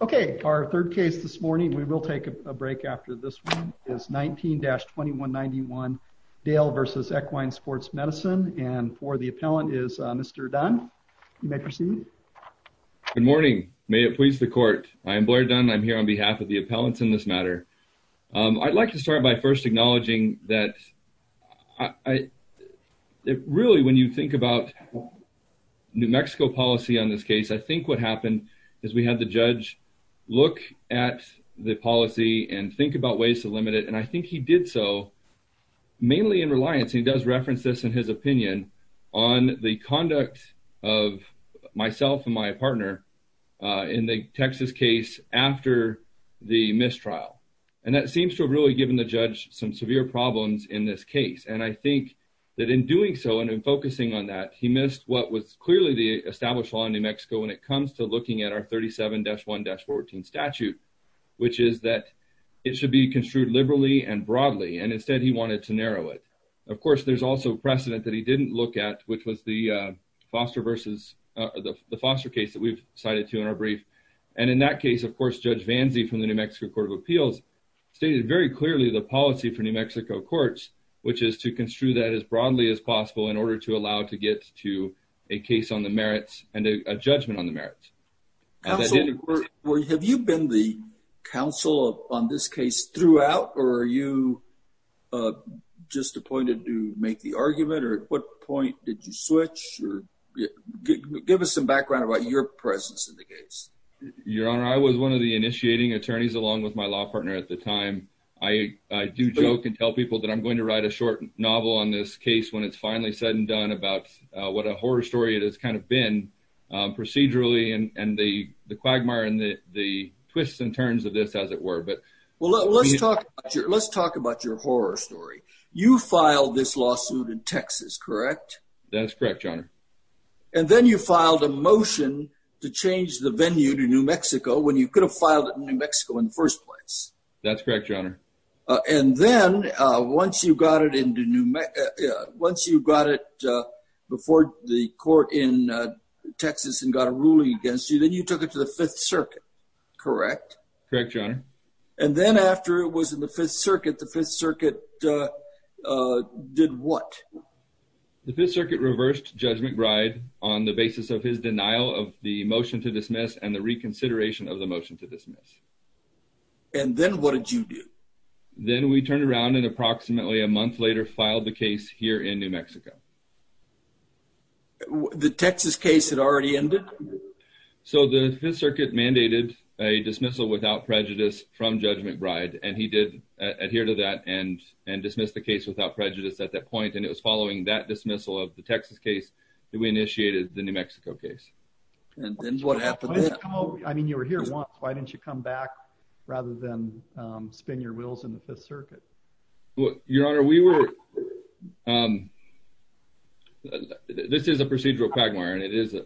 Okay, our third case this morning, we will take a break after this one is 19-2191 Dale v. Equine Sports Medicine and for the appellant is Mr. Dunn. You may proceed. Good morning. May it please the court. I am Blair Dunn. I'm here on behalf of the appellants in this matter. I'd like to start by first acknowledging that really when you think about New Mexico policy on this case, I think what happened is we had the judge look at the policy and think about ways to limit it and I think he did so mainly in reliance, and he does reference this in his opinion, on the conduct of myself and my partner in the Texas case after the mistrial. And that seems to have really given the judge some severe problems in this case. And I think that in doing so and in focusing on that, he missed what was clearly the established law in New Mexico when it comes to looking at our 37-1-14 statute, which is that it should be construed liberally and broadly and instead he wanted to narrow it. Of course, there's also precedent that he didn't look at, which was the foster case that we've cited to in our brief. And in that case, of course, Judge Vanze from the New Mexico Court of Appeals stated very clearly the policy for New Mexico courts, which is to construe that as broadly as possible in order to allow to get to a case on the merits and a judgment on the merits. Have you been the counsel on this case throughout or are you just appointed to make the argument or at what point did you switch? Give us some background about your presence in the case. Your Honor, I was one of the initiating attorneys along with my law partner at the time. I do joke and tell people that I'm going to write a short novel on this case when it's finally said and done about what a horror story it has kind of been procedurally and the quagmire and the twists and turns of this as it were. Well, let's talk about your horror story. You filed this lawsuit in Texas, correct? That's correct, Your Honor. And then you filed a motion to change the venue to New Mexico when you could have filed it in New Mexico in the first place. That's correct, Your Honor. And then once you got it before the court in Texas and got a ruling against you, then you took it to the Fifth Circuit, correct? Correct, Your Honor. And then after it was in the Fifth Circuit, the Fifth Circuit did what? The Fifth Circuit reversed Judge McBride on the basis of his denial of the motion to dismiss and the reconsideration of the motion to dismiss. And then what did you do? Then we turned around and approximately a month later filed the case here in New Mexico. The Texas case had already ended? So the Fifth Circuit mandated a dismissal without prejudice from Judge McBride. And he did adhere to that and dismiss the case without prejudice at that point. And it was following that dismissal of the Texas case that we initiated the New Mexico case. And then what happened? I mean, you were here once. Why didn't you come back rather than spin your wheels in the Fifth Circuit? Well, Your Honor, we were. This is a procedural quagmire and it is a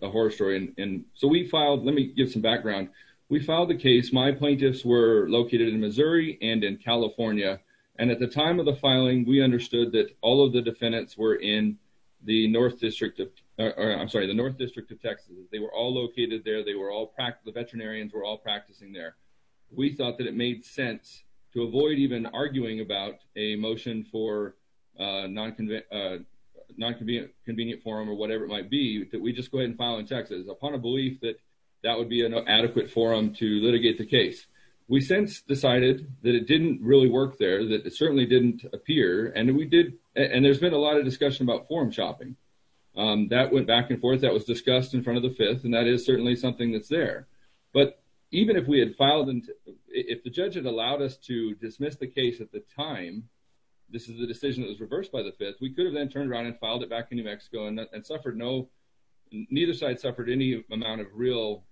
background. We filed the case. My plaintiffs were located in Missouri and in California. And at the time of the filing, we understood that all of the defendants were in the North District of, I'm sorry, the North District of Texas. They were all located there. They were all practicing, the veterinarians were all practicing there. We thought that it made sense to avoid even arguing about a motion for non-convenient form or whatever it might be that we just go ahead and file in Texas upon a adequate forum to litigate the case. We since decided that it didn't really work there, that it certainly didn't appear. And we did. And there's been a lot of discussion about forum shopping that went back and forth that was discussed in front of the Fifth. And that is certainly something that's there. But even if we had filed and if the judge had allowed us to dismiss the case at the time, this is the decision that was reversed by the Fifth. We could have then turned around and filed it back in New Mexico and suffered no, neither side suffered any amount of real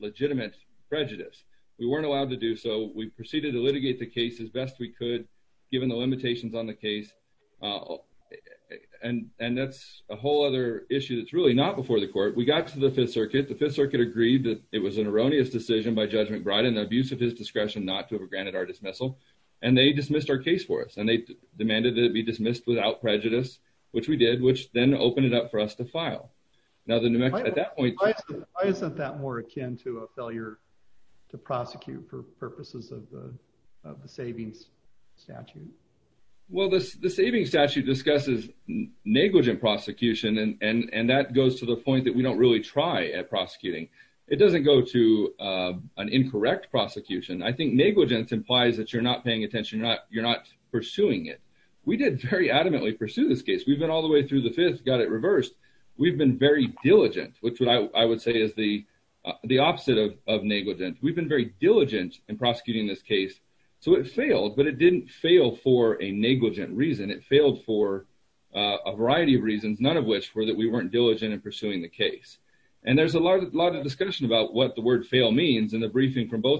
legitimate prejudice. We weren't allowed to do so. We proceeded to litigate the case as best we could, given the limitations on the case. And that's a whole other issue that's really not before the court. We got to the Fifth Circuit. The Fifth Circuit agreed that it was an erroneous decision by Judge McBride and the abuse of his discretion not to have granted our dismissal. And they dismissed our case for us. And they demanded that it be dismissed without prejudice, which we did, which then opened it up for us to file. Now, the New Mexico at that point, isn't that more akin to a failure to prosecute for purposes of the savings statute? Well, this the savings statute discusses negligent prosecution. And and that goes to the point that we don't really try at prosecuting. It doesn't go to an incorrect prosecution. I think negligence implies that you're not paying attention, not you're not pursuing it. We did very adamantly pursue this case, we've been all the way through the fifth got it reversed. We've been very diligent, which I would say is the, the opposite of negligent, we've been very diligent in prosecuting this case. So it failed, but it didn't fail for a negligent reason. It failed for a variety of reasons, none of which were that we weren't diligent in pursuing the case. And there's a lot of discussion about what the word fail means in the briefing from an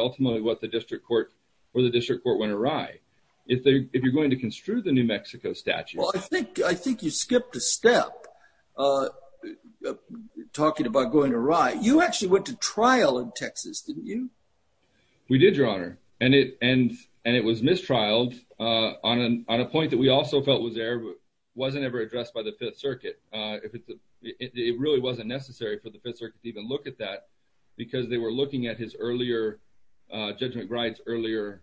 ultimately what the district court or the district court went awry. If they if you're going to construe the New Mexico statute, I think I think you skipped a step. Talking about going awry, you actually went to trial in Texas, didn't you? We did, Your Honor, and it and and it was mistrialed on an on a point that we also felt was there, but wasn't ever addressed by the Fifth Circuit. If it's it really wasn't necessary for the Fifth Circuit to even look at that, because they were looking at his earlier, Judge McBride's earlier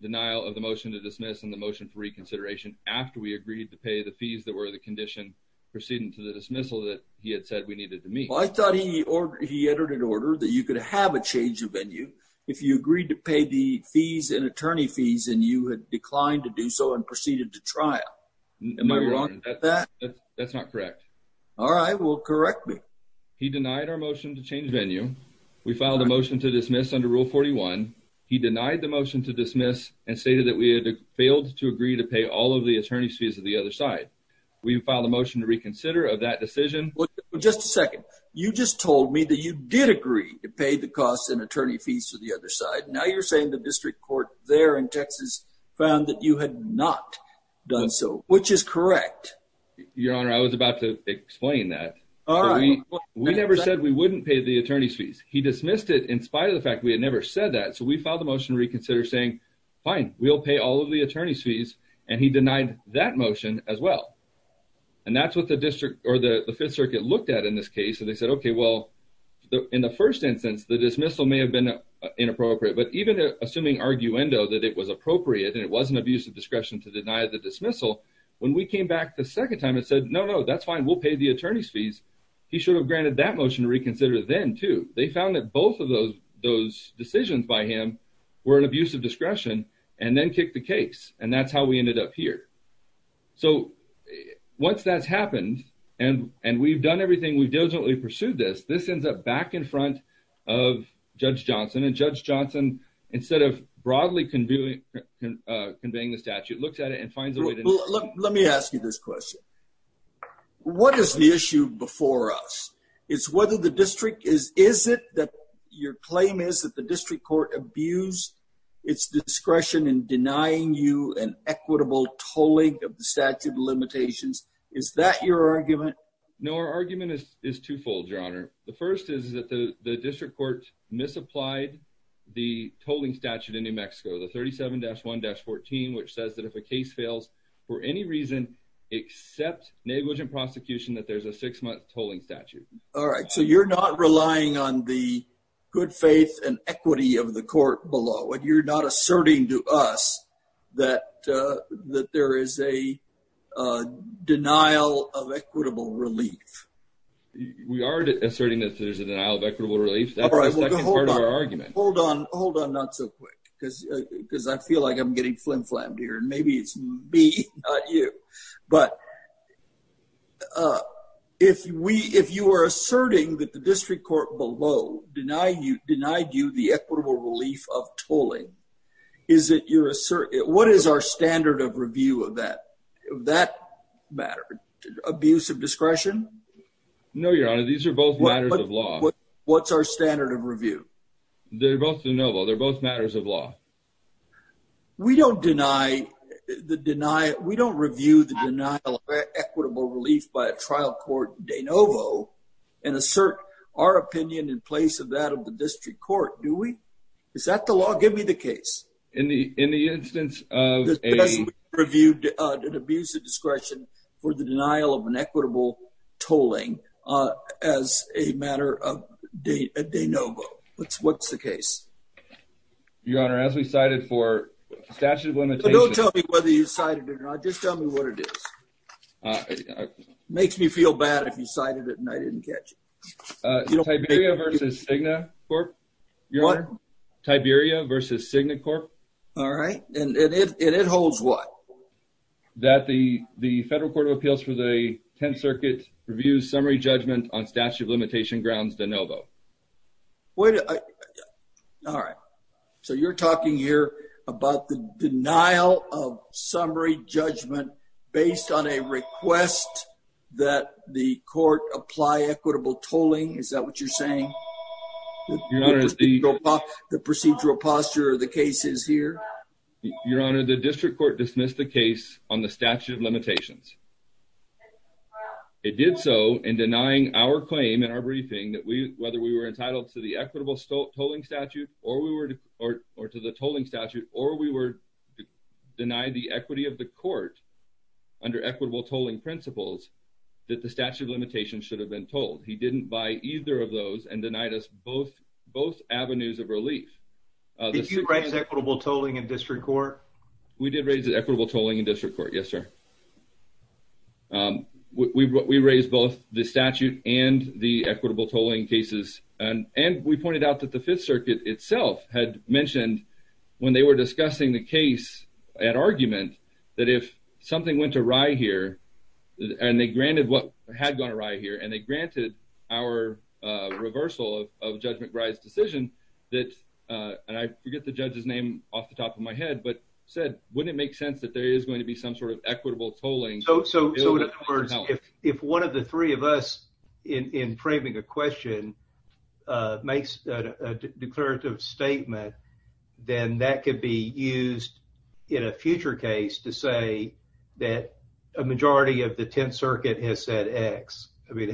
denial of the motion to dismiss and the motion for reconsideration after we agreed to pay the fees that were the condition proceeding to the dismissal that he had said we needed to meet. Well, I thought he or he entered an order that you could have a change of venue if you agreed to pay the fees and attorney fees and you had declined to do so and proceeded to trial. Am I wrong on that? That's not correct. All right, well, correct me. He denied our motion to change venue. We filed a motion to dismiss under Rule 41. He denied the motion to dismiss and stated that we had failed to agree to pay all of the attorney's fees to the other side. We filed a motion to reconsider of that decision. Just a second. You just told me that you did agree to pay the costs and attorney fees to the other side. Now you're saying the district court there in Texas found that you had not done so, which is correct. Your Honor, I was about to explain that. We never said we wouldn't pay the attorney's fees. He dismissed it in spite of the fact we had never said that. So we filed a motion reconsider saying, fine, we'll pay all of the attorney's fees. And he denied that motion as well. And that's what the district or the Fifth Circuit looked at in this case. And they said, OK, well, in the first instance, the dismissal may have been inappropriate, but even assuming arguendo that it was appropriate and it wasn't abuse of discretion to deny the dismissal, when we came back the second time and said, no, no, that's fine. We'll pay the fees. He should have granted that motion to reconsider then, too. They found that both of those decisions by him were an abuse of discretion and then kicked the case. And that's how we ended up here. So once that's happened and we've done everything, we've diligently pursued this, this ends up back in front of Judge Johnson. And Judge Johnson, instead of broadly conveying the statute, looks at it and finds a way to... Let me ask you this question. What is the issue before us? It's whether the district is, is it that your claim is that the district court abused its discretion in denying you an equitable tolling of the statute of limitations? Is that your argument? No, our argument is twofold, Your Honor. The first is that the district court misapplied the tolling statute in New York for any reason, except negligent prosecution, that there's a six-month tolling statute. All right. So you're not relying on the good faith and equity of the court below, and you're not asserting to us that that there is a denial of equitable relief. We are asserting that there's a denial of equitable relief. That's the second part of our argument. Hold on, hold on, not so quick, because I feel like I'm getting flim flammed here. And maybe it's me, not you. But if we, if you are asserting that the district court below denied you the equitable relief of tolling, is it your assertion? What is our standard of review of that matter? Abuse of discretion? No, Your Honor, these are both matters of law. What's our standard of review? They're both de novo. They're both matters of law. We don't deny the denial. We don't review the denial of equitable relief by a trial court de novo and assert our opinion in place of that of the district court, do we? Is that the law? Give me the case. In the instance of a... as a matter of de novo. What's the case? Your Honor, as we cited for statute of limitations... Don't tell me whether you cited it or not, just tell me what it is. Makes me feel bad if you cited it and I didn't catch it. Tiberia versus Cigna Corp. Your Honor, Tiberia versus Cigna Corp. All right. And it holds what? That the Federal Court of Appeals for the 10th Circuit reviews summary judgment on statute of limitation grounds de novo. Wait, all right. So you're talking here about the denial of summary judgment based on a request that the court apply equitable tolling. Is that what you're saying? Your Honor, the procedural posture of the case is here. Your Honor, the district court dismissed the case on the statute of limitations. It did so in denying our claim in our briefing that we whether we were entitled to the equitable tolling statute or we were or to the tolling statute or we were denied the equity of the court under equitable tolling principles that the statute of limitations should have been told. He didn't buy either of those and denied us both avenues of relief. Did you raise equitable tolling in district court? We did raise the equitable tolling in district court. Yes, sir. We raised both the statute and the equitable tolling cases and we pointed out that the 5th Circuit itself had mentioned when they were discussing the case at argument that if something went awry here and they granted what had gone awry here and they granted our reversal of judgment decision that and I forget the judge's name off the top of my head but said wouldn't it make sense that there is going to be some sort of equitable tolling. So in other words, if one of the three of us in framing a question makes a declarative statement then that could be used in a future case to say that a majority of the 10th Circuit has said X. I mean,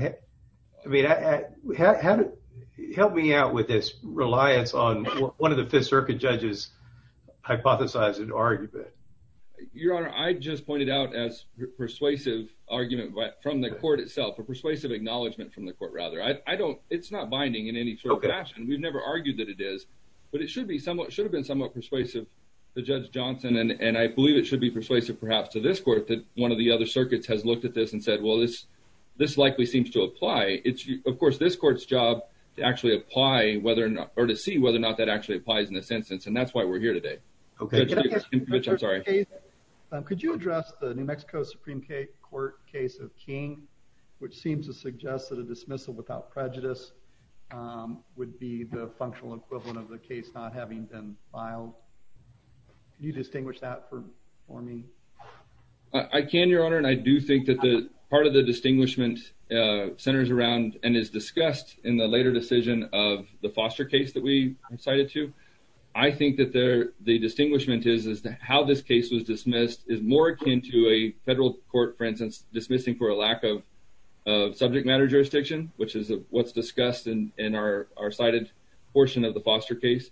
help me out with this reliance on one of the 5th Circuit judges hypothesizing argument. Your honor, I just pointed out as persuasive argument from the court itself, a persuasive acknowledgment from the court rather. I don't, it's not binding in any sort of fashion. We've never argued that it is but it should be somewhat, should have been somewhat persuasive to Judge perhaps to this court that one of the other circuits has looked at this and said, well, this likely seems to apply. It's, of course, this court's job to actually apply whether or not, or to see whether or not that actually applies in this instance and that's why we're here today. Okay. Could you address the New Mexico Supreme Court case of King which seems to suggest that a dismissal without prejudice would be the functional equivalent of the case not having been filed. Can you distinguish that for me? I can, your honor, and I do think that the part of the distinguishment centers around and is discussed in the later decision of the foster case that we cited to. I think that there, the distinguishment is as to how this case was dismissed is more akin to a federal court, for instance, dismissing for a lack of subject matter which is what's discussed in our cited portion of the foster case,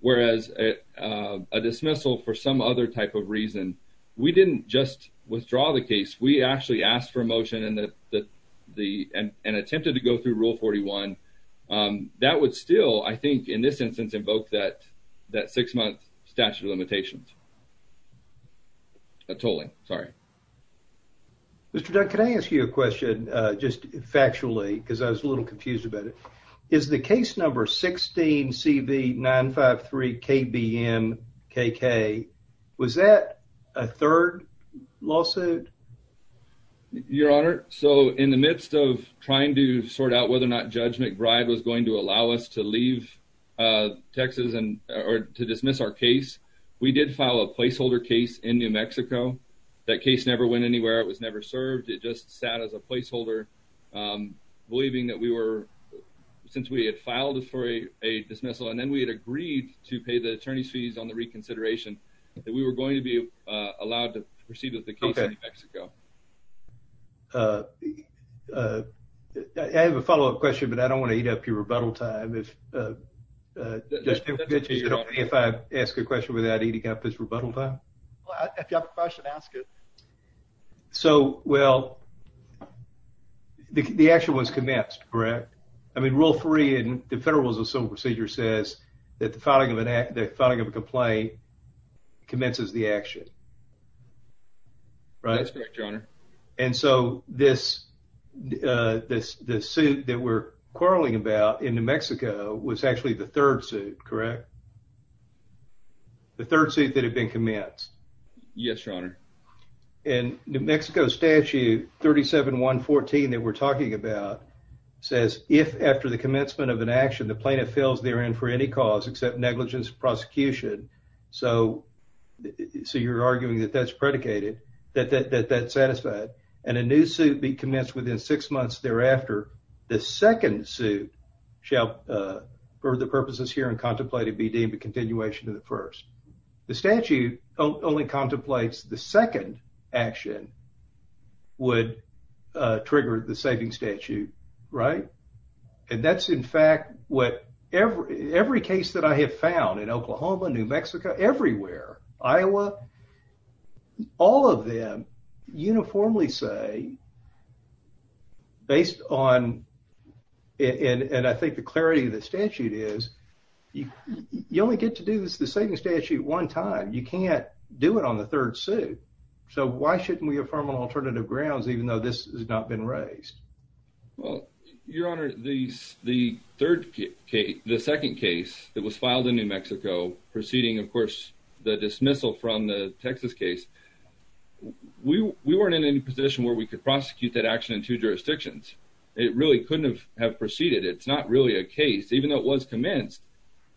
whereas a dismissal for some other type of reason, we didn't just withdraw the case. We actually asked for a motion and attempted to go through Rule 41. That would still, I think, in this instance invoke that six-month statute of limitations, a tolling, sorry. Mr. Dunn, can I ask you a question just factually because I was a little confused about it? Is the case number 16CV953KBMKK, was that a third lawsuit? Your honor, so in the midst of trying to sort out whether or not Judge McBride was going to allow us to leave Texas and or to dismiss our case, we did file a placeholder case in New Mexico. That case never went anywhere. It was never served. It just sat as a placeholder believing that we were, since we had filed it for a dismissal and then we had agreed to pay the attorney's fees on the reconsideration, that we were going to be allowed to proceed with the case in New Mexico. I have a follow-up question, but I don't want to eat up your rebuttal time. If I ask a question without eating up his rebuttal time? If you have a question, ask it. So, well, the action was commenced, correct? I mean, Rule 3 in the Federal Rules of Civil Procedure says that the filing of a complaint commences the action, correct? That's correct, your honor. And so this suit that we're quarreling about in New Mexico was actually the third suit, correct? The third suit that had been commenced. Yes, your honor. And New Mexico Statute 37-114 that we're talking about says if after the commencement of an action the plaintiff fails therein for any cause except negligence prosecution, so you're arguing that that's predicated, that that's satisfied, and a new suit be commenced within six months thereafter, the second suit shall for the purposes here and contemplated be deemed a continuation of the first. The statute only contemplates the second action would trigger the saving statute, right? And that's in fact what every case that I have found in Oklahoma, New Mexico, everywhere, Iowa, all of them uniformly say based on, and I think the clarity of the statute is, you only get to do the saving statute one time. You can't do it on the third suit. So why shouldn't we affirm on alternative grounds even though this has not been raised? Well, your honor, the third case, the second case that was filed in New Mexico preceding, of course, the dismissal from the Texas case, we weren't in any position where we could prosecute that action in two jurisdictions. It really couldn't have proceeded. It's not really a case. Even though it was commenced,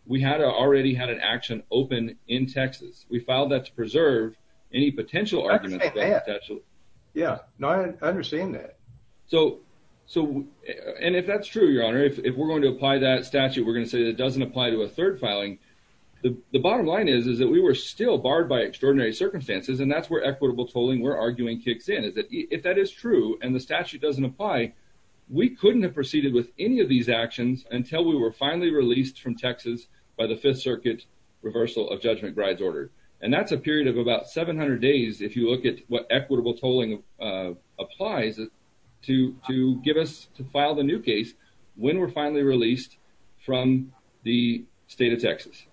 we had already had an action open in Texas. We filed that to preserve any potential arguments potentially. Yeah, no, I understand that. So, and if that's true, your honor, if we're going to apply that statute, we're going to say that doesn't apply to a third filing. The bottom line is, is that we were still barred by extraordinary circumstances and that's where equitable tolling we're arguing kicks in. Is that if that is true and the statute doesn't apply, we couldn't have proceeded with any of these actions until we were finally released from Texas by the fifth circuit reversal of judgment bride's order. And that's a period of about 700 days if you look at what equitable tolling applies to give us to file the new case when we're finally released from the state of Texas.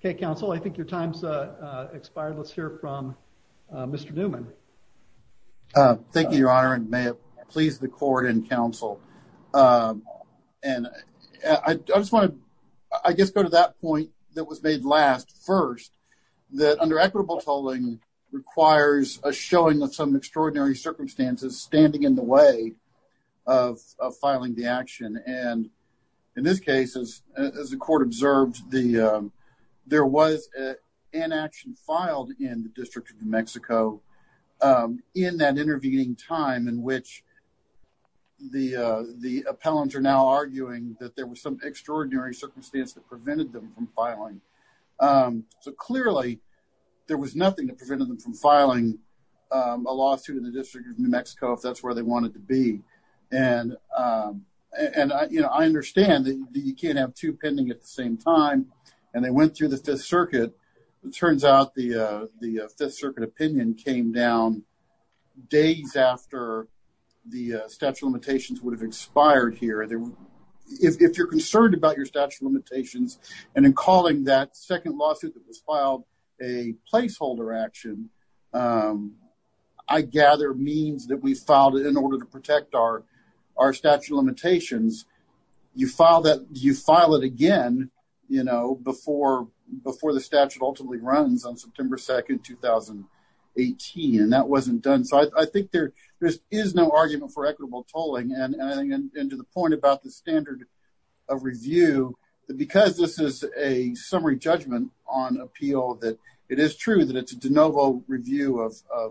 Okay, counsel, I think your time's expired. Let's hear from Mr. Newman. Thank you, your honor and may it please the court and counsel. And I just want to, I guess, go to that point that was made last first, that under equitable tolling requires a showing of some extraordinary circumstances standing in the way of filing the action. And in this case, as the court observed, there was an action filed in the district of New Mexico in that intervening time in which the appellants are now arguing that there was some extraordinary circumstance that prevented them from filing. So clearly, there was nothing that prevented them from filing a lawsuit in the district of New Mexico if that's where they wanted to be. And, and, you know, I understand that you can't have two pending at the same time. And they went through the Fifth Circuit. It turns out the the Fifth Circuit opinion came down days after the statute limitations would have expired here. If you're concerned about your statute limitations, and in calling that second lawsuit that was filed a placeholder action, I gather means that we filed it in order to protect our, our statute limitations. You file that you file it again, you know, before before the statute ultimately runs on September 2, 2018. And that wasn't done. So I think there, there is no argument for equitable tolling and adding into the point about the standard of review, because this is a summary judgment on appeal that it is true that it's a de novo review of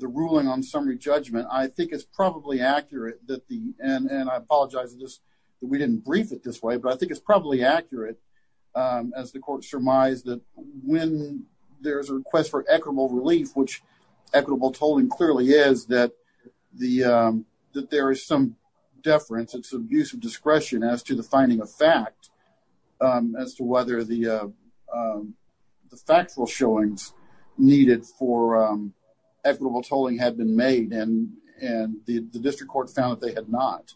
the ruling on summary judgment, I think it's probably accurate that the and I apologize, just that we didn't brief it this way. But I think it's probably accurate, as the court surmised that when there's a request for equitable relief, which equitable tolling clearly is that the that there is some deference and some use of discretion as to the finding of fact as to whether the the factual showings needed for equitable tolling had been made and, and the district court found that they had not.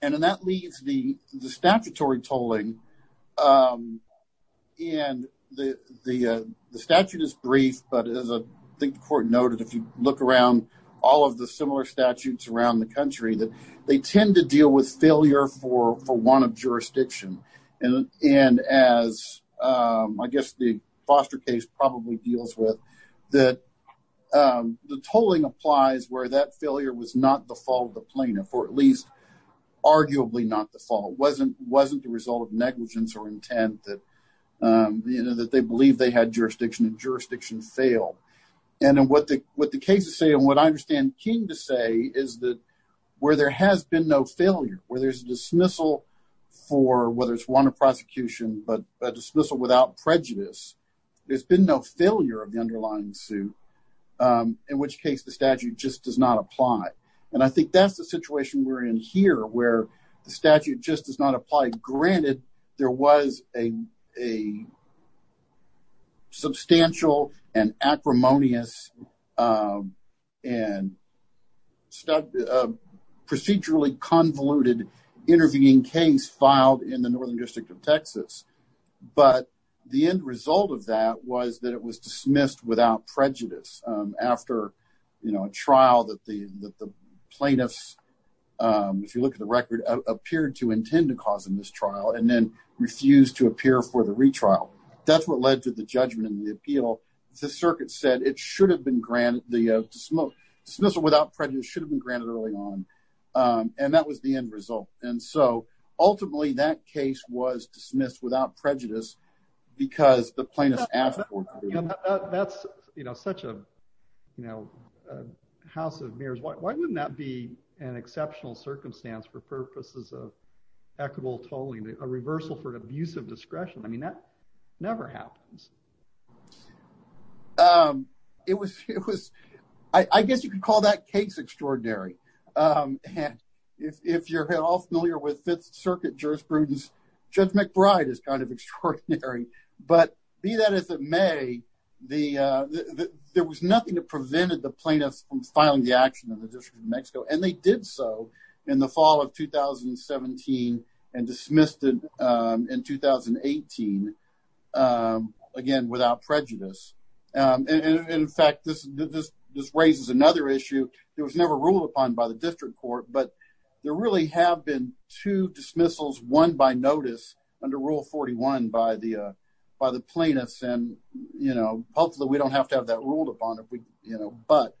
And that leaves the statutory tolling. And the, the statute is brief, but as I think the court noted, if you look around all of the similar statutes around the country that they tend to deal with failure for for one of jurisdiction. And as I guess the foster case probably deals with that, the tolling applies where that failure was not the fault of the plaintiff, or at least, arguably not the fault wasn't wasn't the result of negligence or intent that, you know, that they believe they had jurisdiction and jurisdiction failed. And then what the what the cases say, and what I understand came to say is that, where there has been no failure, where there's a dismissal for whether it's one of prosecution, but a dismissal without prejudice, there's been no failure of the underlying suit, in which case the statute just does not apply. And I think that's the situation we're in here where the statute just does not apply. Granted, there was a a substantial and acrimonious and procedurally convoluted intervening case filed in the northern district of Texas. But the end result of that was that it was dismissed without prejudice. After, you know, a trial that the plaintiffs, if you look at the record, appeared to intend to cause in this trial and then refused to appear for the retrial. That's what led to the judgment and the appeal. The circuit said it should have been granted the smoke dismissal without prejudice should have been granted early on. And that was the end result. And so ultimately, that case was dismissed without prejudice. Because the plaintiffs asked, that's, you know, such a, you know, house of mirrors, why wouldn't that be an exceptional circumstance for purposes of equitable tolling a reversal for an abuse of discretion? I mean, that never happens. Um, it was it was, I guess you could call that case extraordinary. And if you're all familiar with Fifth Circuit jurisprudence, Judge McBride is kind of extraordinary. But be that as it may, the there was nothing that prevented the plaintiffs from filing the action in the district of Mexico. And they did so in the fall of 2017. And dismissed in 2018. Again, without prejudice. And in fact, this, this raises another issue that was never ruled upon by the district court. But there really have been two dismissals one by notice under Rule 41 by the by the plaintiffs. And, you know, hopefully, we don't have to have that ruled upon if we, you know, but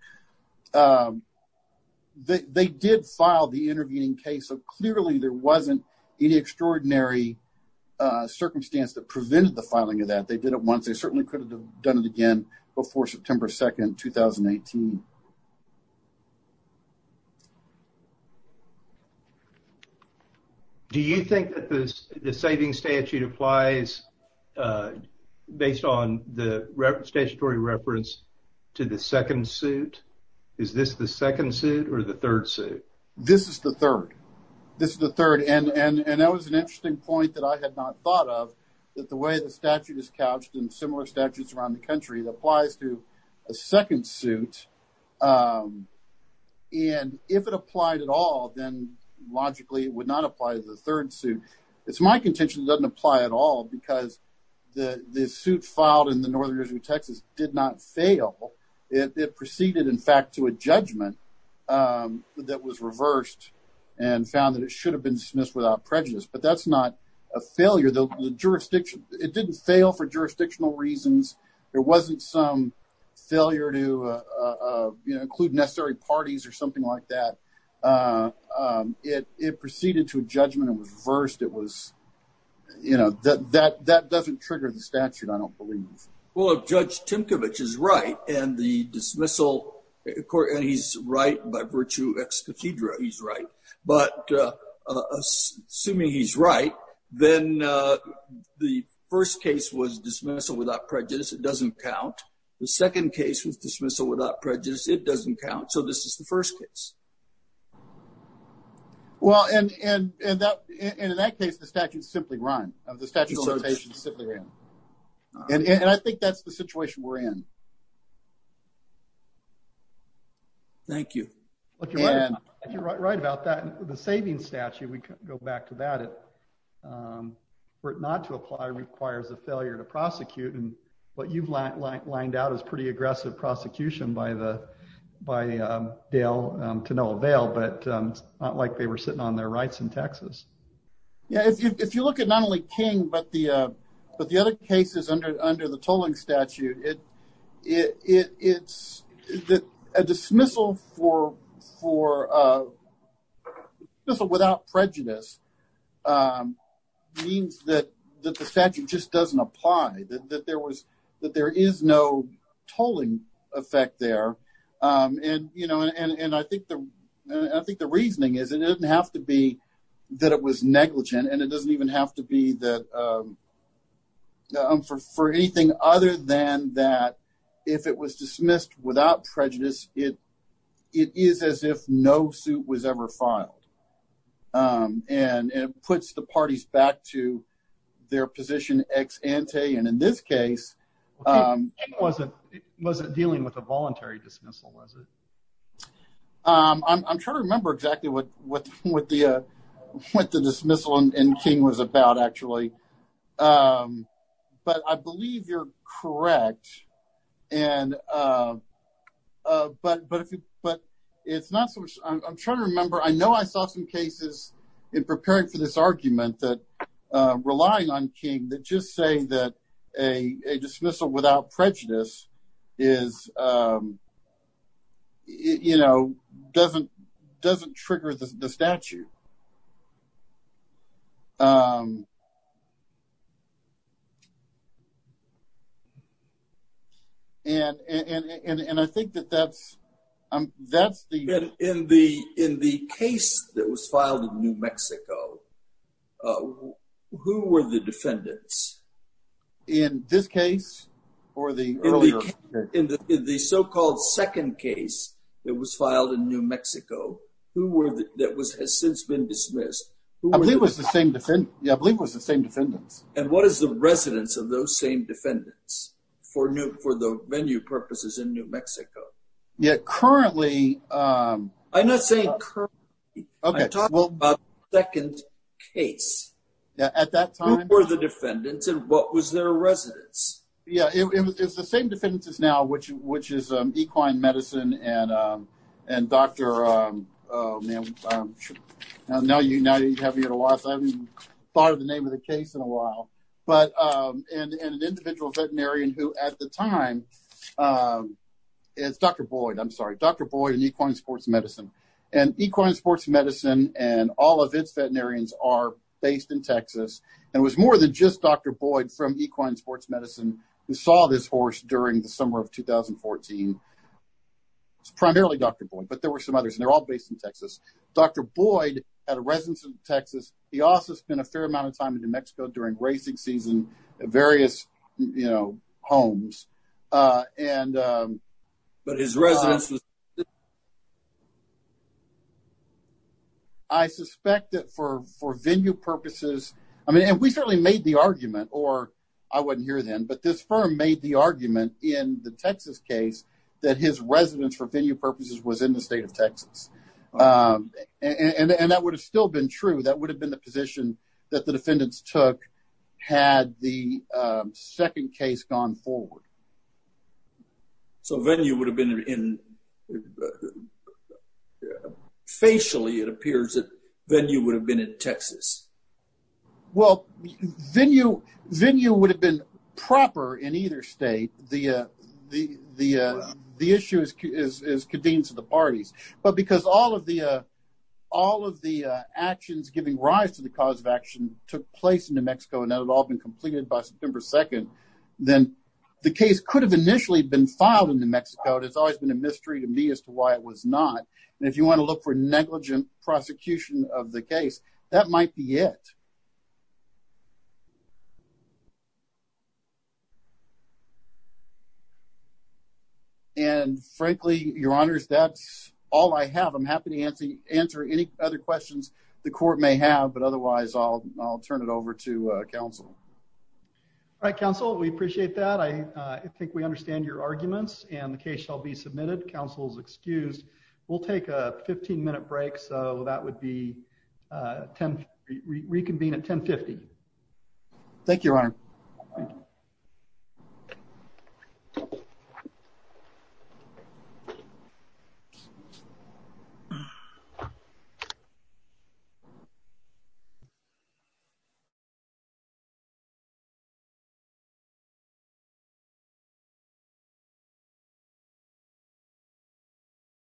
they did file the intervening case. So clearly, there wasn't any extraordinary circumstance that prevented the filing of that they did it once they certainly could have done it again before September 2, 2018. Do you think that the saving statute applies based on the statutory reference to the second suit? Is this the second suit or the third suit? This is the third. This is the third and and that was an interesting point that I had not thought of that the way the statute is couched in similar statutes around the country that applies to a second suit. And if it applied at all, then logically would not apply to the third suit. It's my contention doesn't apply at all because the the suit filed in the Northern Texas did not fail. It proceeded, in fact, to a judgment that was reversed and found that it should have been dismissed without prejudice. But that's not a failure. The jurisdiction, it didn't fail for jurisdictional reasons. There wasn't some failure to include necessary parties or something like that. It proceeded to a judgment that was reversed. It was, you know, that that that doesn't trigger the statute, I don't believe. Well, if Judge Timkovich is right and the dismissal court and he's right by virtue ex cathedra, he's right. But assuming he's right, then the first case was dismissal without prejudice. It doesn't count. The second case was dismissal without prejudice. It doesn't count. So this is the first case. Well, and in that in that case, the statute simply run of the statute simply ran. And I think that's the situation we're in. Thank you. And if you're right about that, the saving statute, we go back to that. For it not to apply requires a failure to prosecute. And what you've lined out is pretty aggressive prosecution by the by Dale to no avail. But it's not like they were sitting on their rights in Texas. Yeah, if you if you look at not only King, but the but the other cases under under the tolling statute, it it's that a dismissal for for this without prejudice means that the statute just doesn't apply, that there was that there is no tolling effect there. And, you know, and I think the I think the reasoning is it doesn't have to be that it was negligent. And it doesn't even have to be that for anything other than that, if it was dismissed without prejudice, it it is as if no suit was ever filed. And it puts the parties back to their position ex ante. And in this case, wasn't wasn't dealing with a voluntary dismissal, was it? I'm trying to remember exactly what what, what the what the dismissal and King was about, actually. But I believe you're correct. And but but but it's not so I'm trying to remember, I know, I saw some cases in preparing for this argument that relying on King that just say that a dismissal without prejudice is, you know, doesn't doesn't trigger the statute. And, and I think that that's, that's the in the in the case that was filed in New Mexico. Who were the defendants in this case, or the in the in the so called second case that was filed in New Mexico? Who were that was has since been dismissed? Who was the same defendant? Yeah, I believe was the same defendants. And what is the residence of those same defendants for new for the venue purposes in New Mexico? Yeah, currently, I'm not saying okay, well, second case, at that time, or the defendants and what was their residence? Yeah, it was the same defendants is now which which is equine medicine and, and Dr. Now you now you have me at a loss. I haven't thought of the name of the case in a while. But an individual veterinarian who at the time is Dr. Boyd, I'm sorry, Dr. Boyd and equine sports medicine, and equine sports medicine and all of its veterinarians are based in Texas. And it was more than just Dr. Boyd from equine sports medicine who saw this horse during the summer of 2014. It's primarily Dr. Boyd, but there were some others and they're all based in Texas. Dr. Boyd had a residence in Texas. He also spent a fair amount of time in New Mexico during racing season, various, you know, homes. And, but his residence I suspect that for for venue purposes, I mean, and we certainly made the argument or I wasn't here then, but this firm made the argument in the Texas case, that his residence for venue purposes was in the state of Texas. And that would have still been true. That would have been the position that the defendants took had the second case gone forward. So venue would have been in the state of Texas. Facially, it appears that venue would have been in Texas. Well, venue would have been proper in either state. The issue is convened to the parties, but because all of the actions giving rise to the cause of action took place in New Mexico, and that had all been completed by September 2nd, then the case could have initially been filed in New Mexico. It has always been a mystery to me as to why it was not. And if you want to look for negligent prosecution of the case, that might be it. And frankly, your honors, that's all I have. I'm happy to answer any other questions the court may have, but otherwise I'll, I'll turn it over to counsel. All right, counsel. We appreciate that. I think we understand your arguments, and the case shall be submitted. Counsel's excused. We'll take a 15 minute break. So that would be, uh, reconvene at 10 50. Thank you, Your Honor. Thank you.